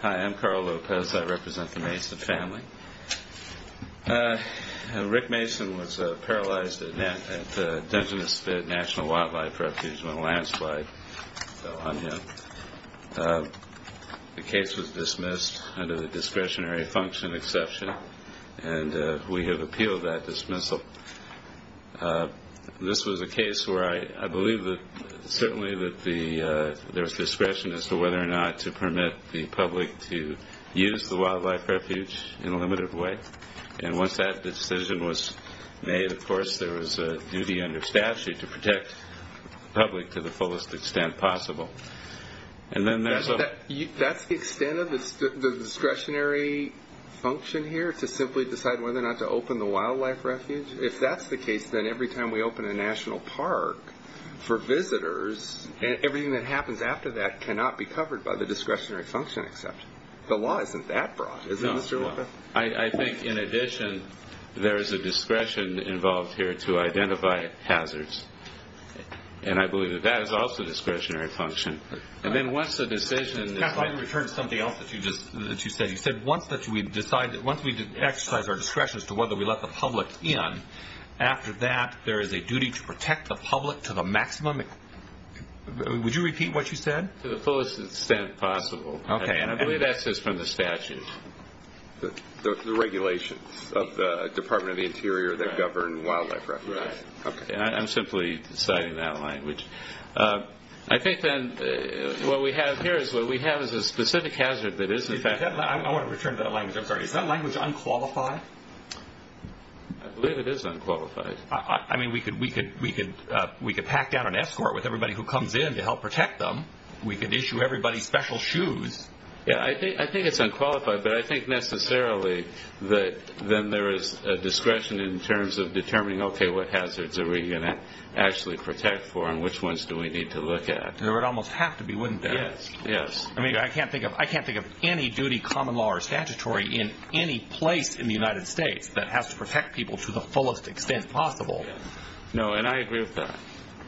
Hi, I'm Carl Lopez. I represent the Mason family. Rick Mason was paralyzed at Dungeness Spit National Wildlife Refuge when landslide fell on him. The case was dismissed under the discretionary function exception and we have appealed that dismissal. This was a case where I believe that certainly there was discretion as to whether or not to permit the public to use the wildlife refuge in a limited way. And once that decision was made, of course, there was a duty under statute to protect the public to the fullest extent possible. And then there's a... That's the extent of the discretionary function here to simply decide whether or not to open the wildlife refuge? If that's the case, then every time we open a national park for visitors, everything that happens after that cannot be covered by the discretionary function exception. The law isn't that broad, is it, Mr. Lopez? I think, in addition, there is a discretion involved here to identify hazards. And I believe that that is also discretionary function. And then once the decision is made... Let me return to something else that you said. You said once we exercise our discretion as to whether we let the public in, after that there is a duty to protect the public to the maximum... Would you repeat what you said? To the fullest extent possible. Okay. And I believe that's just from the statute. The regulations of the Department of the Interior that govern wildlife refuge. Right. Okay. I'm simply citing that language. I think then what we have here is what we have is a specific hazard that is in fact... I want to return to that language. I'm sorry. Is that language unqualified? I believe it is unqualified. I mean, we could pack down an escort with everybody who comes in to help protect them. We could issue everybody special shoes. Yeah. I think it's unqualified, but I think necessarily that then there is a discretion in terms of determining, okay, what hazards are we going to actually protect for and which ones do we need to look at? There would almost have to be, wouldn't there? Yes. I mean, I can't think of any duty, common law, or statutory in any place in the United States that has to protect people to the fullest extent possible. No, and I agree with that.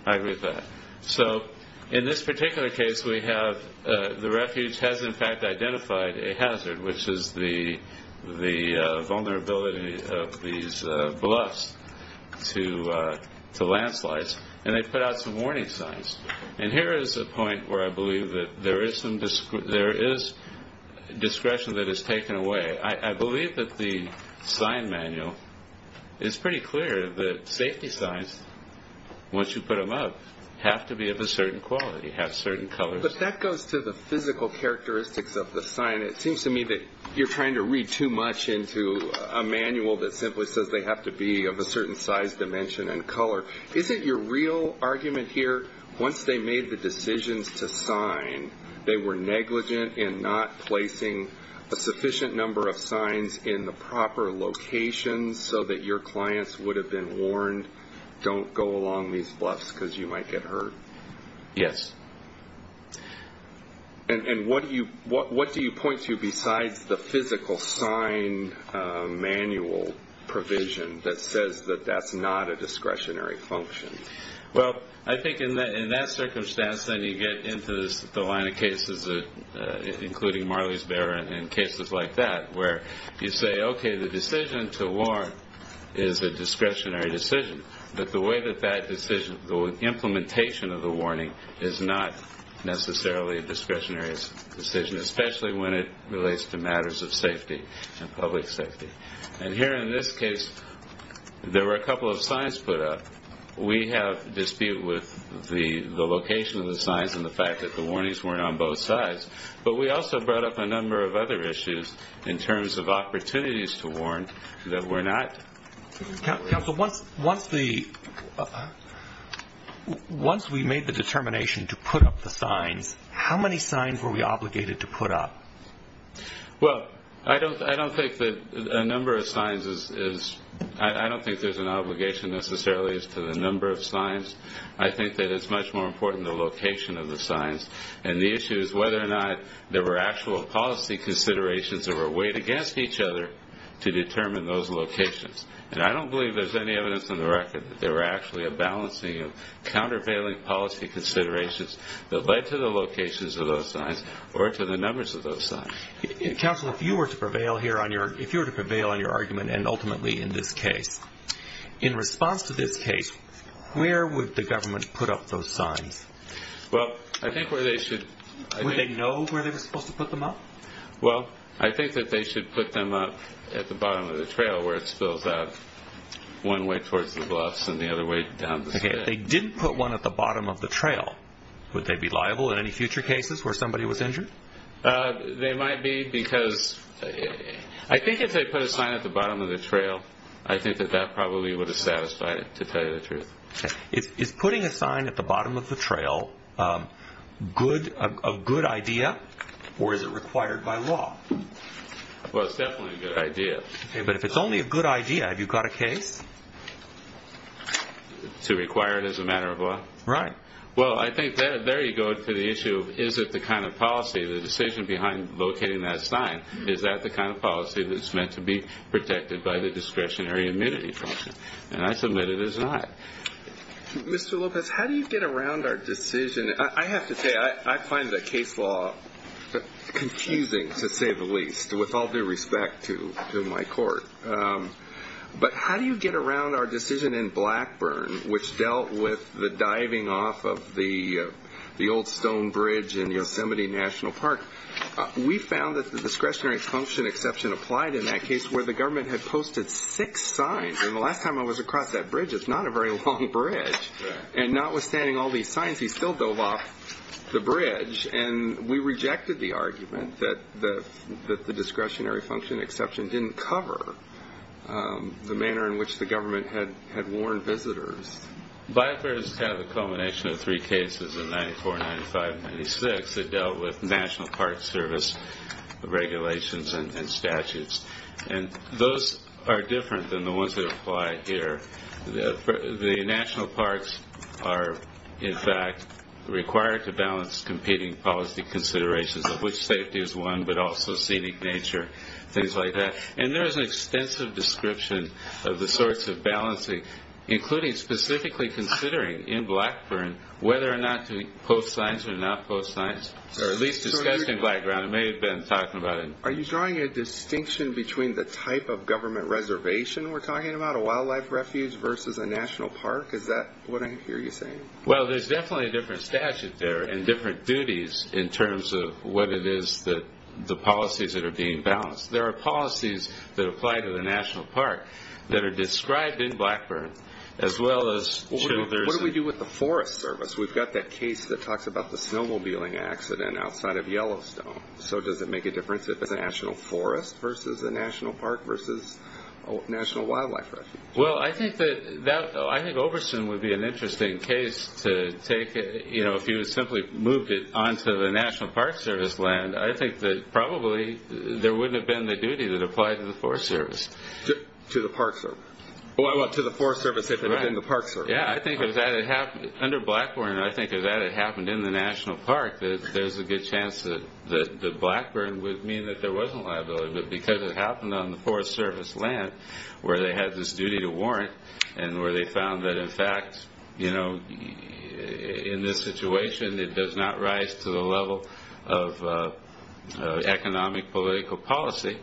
I agree with that. In this particular case, we have the refuge has in fact identified a hazard, which is the vulnerability of these bluffs to landslides, and they put out some warning signs. And here is a point where I believe that there is discretion that is taken away. I believe that the sign manual is pretty clear that safety signs, once you put them up, have to be of a certain quality, have certain colors. But that goes to the physical characteristics of the sign. It seems to me that you're trying to read too much into a manual that simply says they have to be of a certain size, dimension, and color. Is it your real argument here, once they made the decisions to sign, they were negligent in not placing a sufficient number of signs in the proper locations so that your clients would have been warned, don't go along these bluffs because you might get hurt? Yes. And what do you point to besides the physical sign manual provision that says that that's not a discretionary function? Well, I think in that circumstance then you get into the line of cases, including Marley's Bear and cases like that, where you say, okay, the decision to warn is a discretionary decision. But the way that that decision, the implementation of the warning is not necessarily a discretionary decision, especially when it relates to matters of safety and public safety. And here in this case, there were a couple of signs put up. We have dispute with the location of the signs and the fact that the warnings weren't on both sides. But we also brought up a number of other issues in terms of opportunities to warn that were not. Counsel, once we made the determination to put up? Well, I don't think that a number of signs is, I don't think there's an obligation necessarily as to the number of signs. I think that it's much more important the location of the signs. And the issue is whether or not there were actual policy considerations that were weighed against each other to determine those locations. And I don't believe there's any evidence on the record that there were actually a balancing of countervailing policy considerations that led to the locations of those signs or to the numbers of those signs. Counsel, if you were to prevail here on your, if you were to prevail on your argument and ultimately in this case, in response to this case, where would the government put up those signs? Well, I think where they should. Would they know where they were supposed to put them up? Well, I think that they should put them up at the bottom of the trail where it spills out, one way towards the bluffs and the other way down the street. Okay, if they didn't put one at the bottom of the trail, would they be liable in any future cases where somebody was injured? They might be because, I think if they put a sign at the bottom of the trail, I think that that probably would have satisfied it, to tell you the truth. Okay. Is putting a sign at the bottom of the trail a good idea or is it required by law? Well, it's definitely a good idea. Okay, but if it's only a good idea, have you got a case? To require it as a matter of law? Right. Well, I think there you go for the issue of is it the kind of policy, the decision behind locating that sign, is that the kind of policy that's meant to be protected by the discretionary immunity function? And I submit it is not. Mr. Lopez, how do you get around our decision? I have to say, I find the case law confusing, to say the least, with all due respect to my court. But how do you get around our decision in Blackburn, which dealt with the diving off of the old stone bridge in Yosemite National Park? We found that the discretionary function exception applied in that case, where the government had posted six signs. And the last time I was across that bridge, it's not a very long bridge. And notwithstanding all these signs, he still dove off the bridge. And we rejected the argument that the discretionary function exception didn't cover the manner in which the government had warned visitors. Blackburn has had the culmination of three cases in 94, 95, and 96 that dealt with National Park Service regulations and statutes. And those are different than the ones that apply here. The National Parks are, in fact, required to balance competing policy considerations of which safety is one, but also scenic nature, things like that. And there is an extensive description of the sorts of balancing, including specifically considering in Blackburn whether or not to post signs or not post signs, or at least discussing blackground. I may have been talking about it. Are you drawing a distinction between the type of government reservation we're talking about, a wildlife refuge versus a national park? Is that what I hear you saying? Well, there's definitely a different statute there and different duties in terms of what it is that the policies that are being balanced. There are policies that apply to the National Park that are described in Blackburn, as well as children's... What do we do with the Forest Service? We've got that case that talks about the snowmobiling accident outside of Yellowstone. So does it make a difference if it's a national forest versus a national park versus a national wildlife refuge? Well, I think that, I think Oberson would be an interesting case to take it, you know, if you had simply moved it onto the National Park Service land, I think that probably there wouldn't have been the duty that applied to the Forest Service. To the Park Service? Well, to the Forest Service if it had been the Park Service. Yeah, I think if that had happened under Blackburn, I think if that had happened in the National Park, there's a good chance that Blackburn would mean that there wasn't liability. But because it happened on the Forest Service land, where they had this duty to warrant, and where they found that in fact, you know, in this situation it does not rise to the level of economic political policy,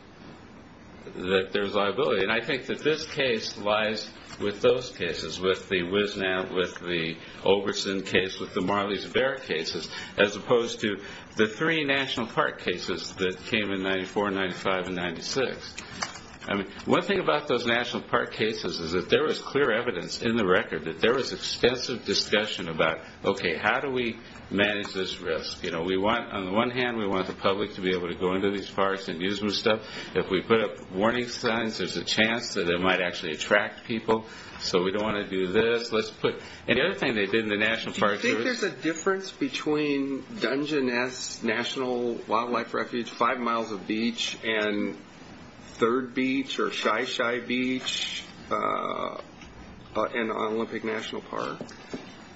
that there's liability. And I think that this case lies with those cases, with the WisNAP, with the Oberson case, with the Marley's Bear cases, as opposed to the three National Park cases that came in 94, 95, and 96. I mean, one thing about those National Park cases is that there was clear evidence in the record that there was extensive discussion about, okay, how do we manage this risk? You know, we want, on the one hand, we want the public to be able to go into these forests and do some stuff. If we put up warning signs, there's a chance that it might actually attract people. So we don't want to do this, let's put... And the other thing they did in the National Park Service... Do you think there's a difference between Dungeon Nest National Wildlife Refuge, five miles of beach, and Third Beach, or Shy-Shy Beach, and Olympic National Park?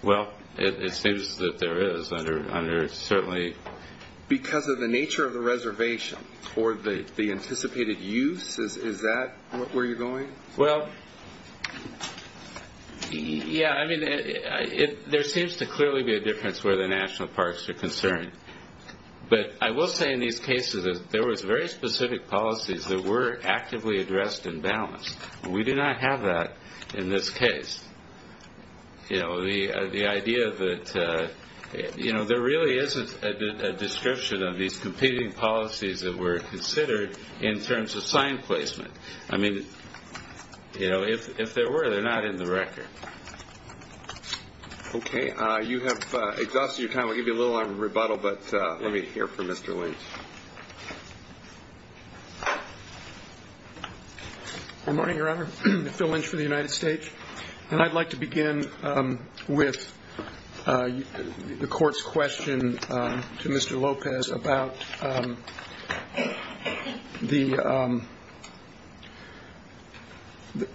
Well, it seems that there is, under certainly... Because of the nature of the reservation, or the anticipated use, is that where you're going? Well, yeah, I mean, there seems to clearly be a difference where the National Parks are concerned. But I will say in these cases that there was very specific policies that were actively addressed and balanced. We do not have that in this case. You know, the idea that there really isn't a description of these competing policies that were considered in terms of sign placement. I mean, if there were, they're not in the record. Okay, you have exhausted your time. We'll give you a little arm of rebuttal, but let me hear from Mr. Lynch. Good morning, Your Honor. Phil Lynch for the United States. And I'd like to begin with the Court's question to Mr. Lopez about the... The... The... The... The...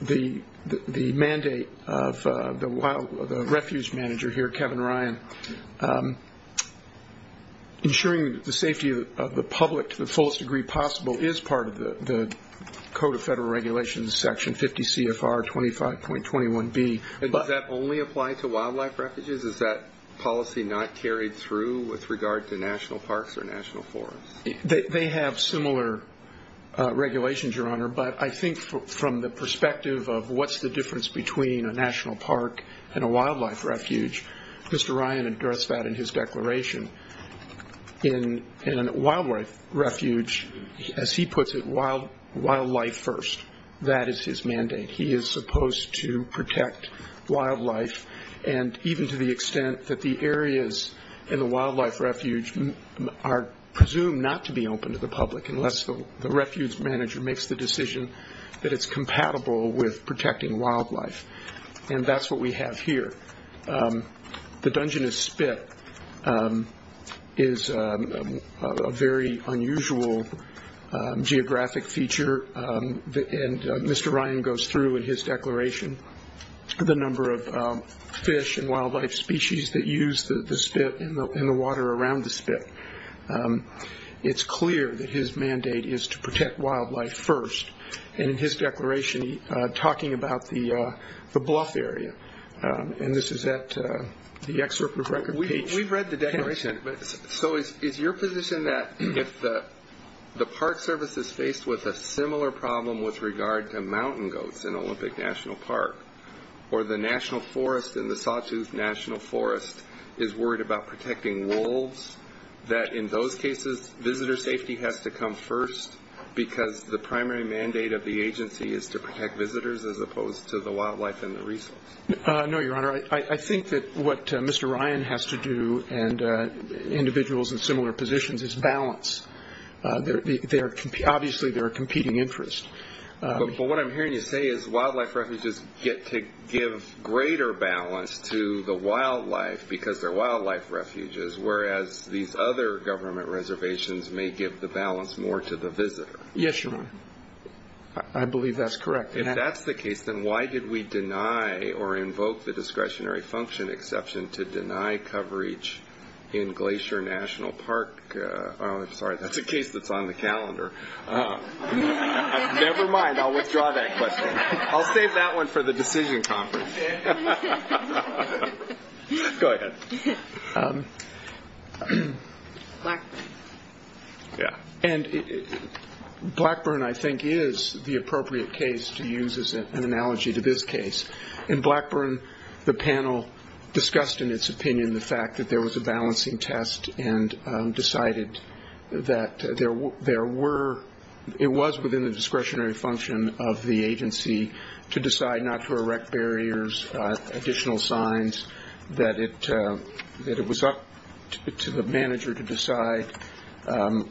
The... The... The... The mandate of the Refuge Manager here, Kevin Ryan, ensuring the safety of the public to the fullest degree possible is part of the Code of Federal Regulations, Section 50 CFR 25.21B. Does that only apply to wildlife refuges? Is that policy not carried through with regard to National Parks or National Forests? They have similar regulations, Your Honor, but I think from the perspective of what's the difference between a National Park and a wildlife refuge, Mr. Ryan addressed that in his declaration. In a wildlife refuge, as he puts it, wildlife first. That is his mandate. He is supposed to protect wildlife, and even to the extent that the areas in the wildlife refuge are presumed not to be open to the public unless the Refuge Manager makes the decision that it's compatible with protecting wildlife. And that's what we have here. The Dungeness Spit is a very unusual geographic feature, and Mr. Ryan goes through in his declaration the number of fish and wildlife species that use the spit and the water around the spit. It's clear that his mandate is to protect wildlife first, and in his declaration he's talking about the bluff area. And this is at the excerpt of record page. We've read the declaration. So is your position that if the Park Service is faced with a similar problem with regard to mountain goats in Olympic National Park, or the National Forest and that in those cases, visitor safety has to come first because the primary mandate of the agency is to protect visitors as opposed to the wildlife and the resource? No, Your Honor. I think that what Mr. Ryan has to do, and individuals in similar positions, is balance. Obviously, they're a competing interest. But what I'm hearing you say is wildlife refuges get to give greater balance to the wildlife because they're wildlife refuges, whereas these other government reservations may give the balance more to the visitor. Yes, Your Honor. I believe that's correct. If that's the case, then why did we deny or invoke the discretionary function exception to deny coverage in Glacier National Park? Sorry, that's a case that's on the calendar. Never mind. I'll withdraw that question. I'll save that one for the decision conference. Go ahead. Blackburn. Blackburn, I think, is the appropriate case to use as an analogy to this case. In Blackburn, the panel discussed in its opinion the fact that there was a balancing test and decided that it was within the discretionary function of the agency to decide not to erect barriers or additional signs, that it was up to the manager to decide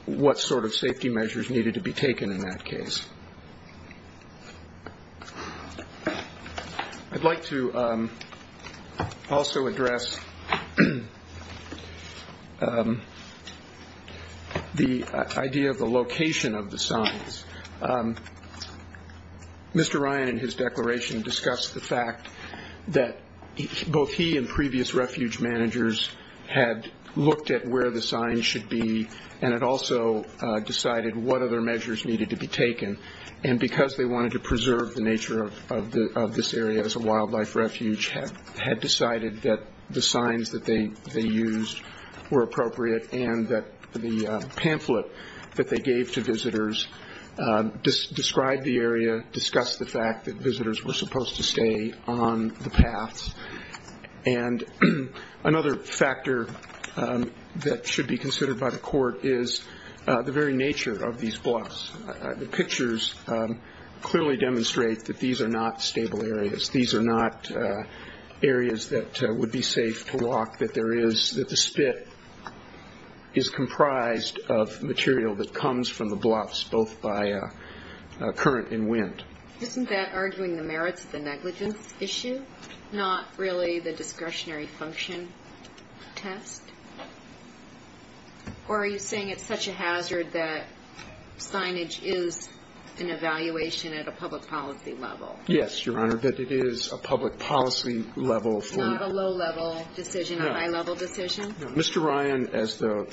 what sort of safety measures needed to be taken in that case. I'd like to also address the idea of the location of the signs. Mr. Ryan, in his declaration, discussed the fact that both he and previous refuge managers had looked at where the signs should be and had also decided what other measures needed to be taken. Because they wanted to preserve the nature of this area as a wildlife refuge, had decided that the signs that they used were appropriate and that the pamphlet that they gave to visitors described the area, discussed the fact that visitors were supposed to stay on the paths. Another factor that should be considered by the court is the very nature of these blocks. The pictures clearly demonstrate that these are not stable areas. These are not areas that would be safe to walk, that the spit is comprised of material that comes from the blocks, both by current and wind. Isn't that arguing the merits of the negligence issue, not really the discretionary function test? Or are you saying it's such a hazard that signage is an evaluation at a public policy level? Yes, Your Honor, that it is a public policy level for Not a low-level decision, a high-level decision? Mr. Ryan, as the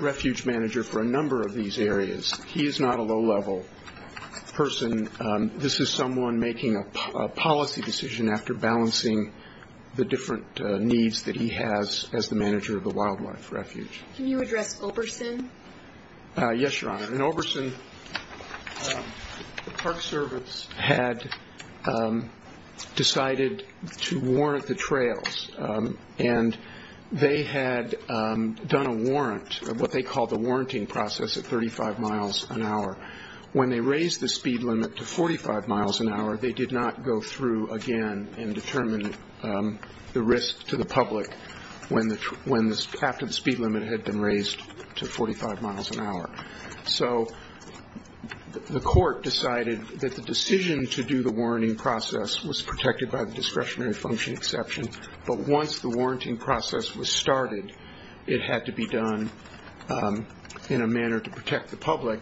refuge manager for a number of these areas, he is not a low-level person. This is someone making a policy decision after balancing the different needs that he has as the manager of the wildlife refuge. Can you address Oberson? Yes, Your Honor. In Oberson, the Park Service had decided to warrant the trails and that they had done a warrant, what they called the warranting process, at 35 miles an hour. When they raised the speed limit to 45 miles an hour, they did not go through again and determine the risk to the public when the speed limit had been raised to 45 miles an hour. So the court decided that the decision to do the warranting process was protected by discretionary function exception, but once the warranting process was started, it had to be done in a manner to protect the public.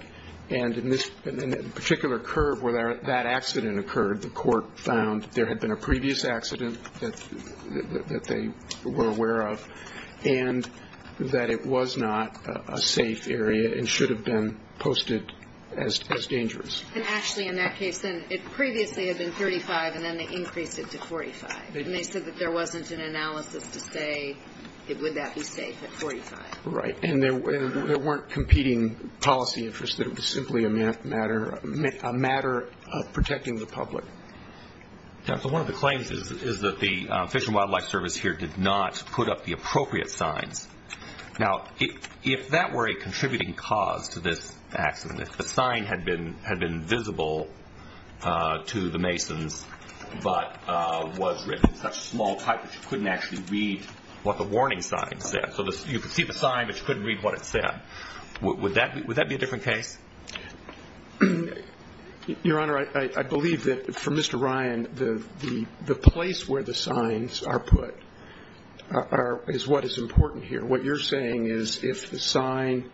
And in this particular curve where that accident occurred, the court found there had been a previous accident that they were aware of and that it was not a safe area and should have been posted as dangerous. And actually in that case, it previously had been 35 and then they increased it to 45. And they said that there wasn't an analysis to say, would that be safe at 45? Right. And there weren't competing policy interests. It was simply a matter of protecting the public. One of the claims is that the Fish and Wildlife Service here did not put up the appropriate signs. Now, if that were a contributing cause to this accident, if the sign had been visible to the masons but was written in such small type that you couldn't actually read what the warning sign said, so you could see the sign but you couldn't read what it said, would that be a different case? Your Honor, I believe that for Mr. Ryan, the place where the signs are put is what is important here. What you're saying is if the sign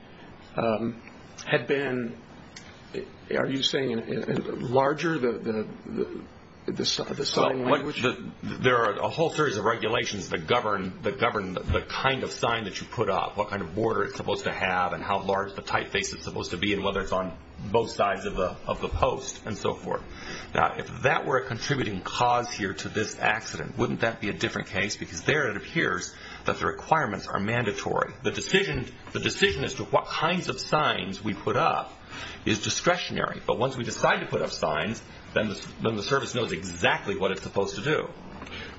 had been, are you saying larger, the sign language? There are a whole series of regulations that govern the kind of sign that you put up, what kind of border it's supposed to have and how large the typeface is supposed to be and whether it's on both sides of the post and so forth. Now, if that were a contributing cause here to this accident, wouldn't that be a different case because there it appears that the requirements are mandatory. The decision as to what kinds of signs we put up is discretionary, but once we decide to put up signs, then the service knows exactly what it's supposed to do.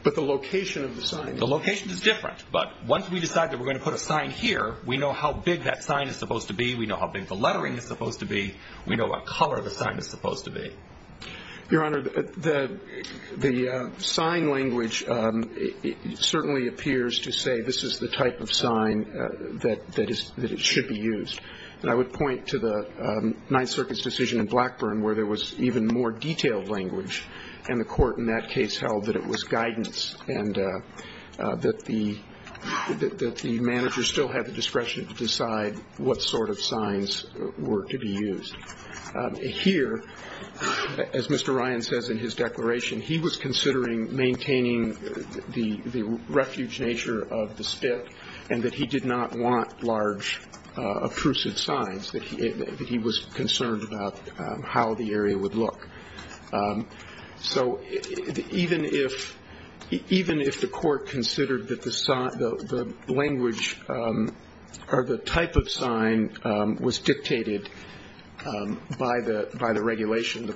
But the location of the sign? The location is different, but once we decide that we're going to put a sign here, we know how big that sign is supposed to be, we know how big the lettering is supposed to be, we know what color the sign is supposed to be. Your Honor, the sign language certainly appears to say this is the type of sign that it should be used. And I would point to the Ninth Circuit's decision in Blackburn where there was even more detailed language, and the Court in that case held that it was guidance and that the manager still had the discretion to decide what sort of signs were to be used. As Mr. Ryan says in his declaration, he was considering maintaining the refuge nature of the spit and that he did not want large, uprooted signs, that he was concerned about how the area would look. So even if the Court considered that the language or the type of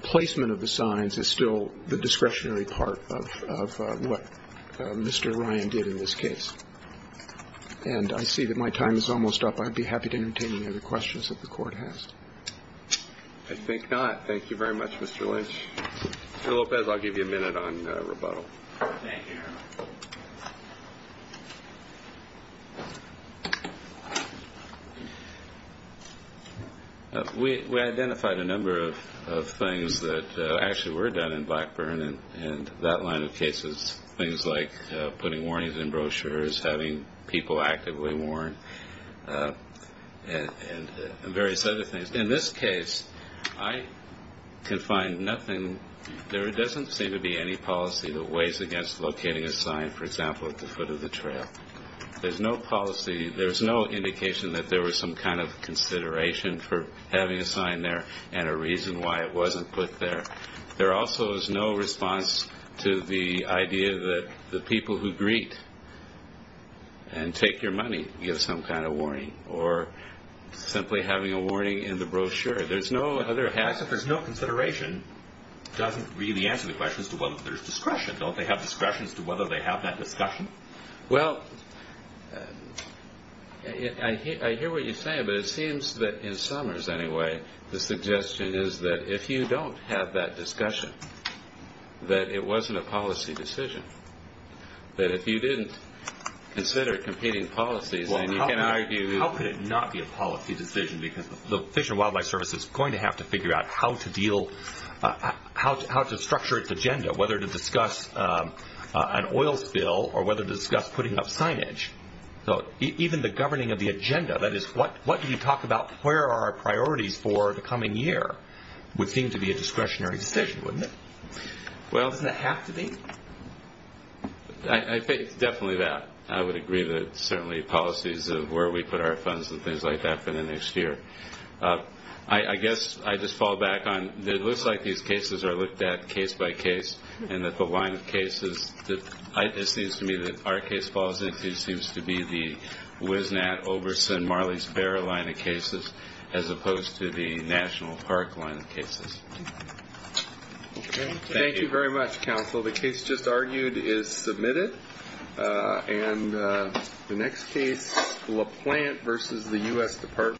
placement of the signs is still the discretionary part of what Mr. Ryan did in this case. And I see that my time is almost up. I'd be happy to entertain any other questions that the Court has. I think not. Thank you very much, Mr. Lynch. Mr. Lopez, I'll give you a minute on rebuttal. Thank you, Your Honor. We identified a number of things that actually were done in Blackburn, and that line of cases, things like putting warnings in brochures, having people actively warn, and various other things. In this case, I can find nothing. There doesn't seem to be any policy that weighs against locating a sign, for example, at the foot of the trail. There's no policy, there's no indication that there was some kind of consideration for having a sign there and a reason why it wasn't put there. There also is no response to the idea that the people who greet and take your money give some kind of warning, or simply having a warning in the brochure. There's no other... As if there's no consideration doesn't really answer the question as to whether there's discretion. Don't they have discretion as to whether they have that discussion? Well, I hear what you're saying, but it seems that in Summers, anyway, the suggestion is that if you don't have that discussion, that it wasn't a policy decision. That if you didn't consider competing policies, then you can argue... How could it not be a policy decision? Because the Fish and Wildlife Service is going to have to figure out how to deal, how to structure its agenda, whether to discuss an oil spill or whether to discuss putting up signage. Even the governing of the agenda, that is, what do you talk about, where are our priorities for the coming year, would seem to be a discretionary decision, wouldn't it? Doesn't it have to be? I think it's definitely that. I would agree that certainly policies of where we put our I just fall back on, it looks like these cases are looked at case by case, and that the line of cases that it seems to me that our case falls into seems to be the Wisnat, Oberson, Marley's Bear line of cases, as opposed to the National Park line of cases. Thank you very much, counsel. The case just argued is submitted. And the next case, La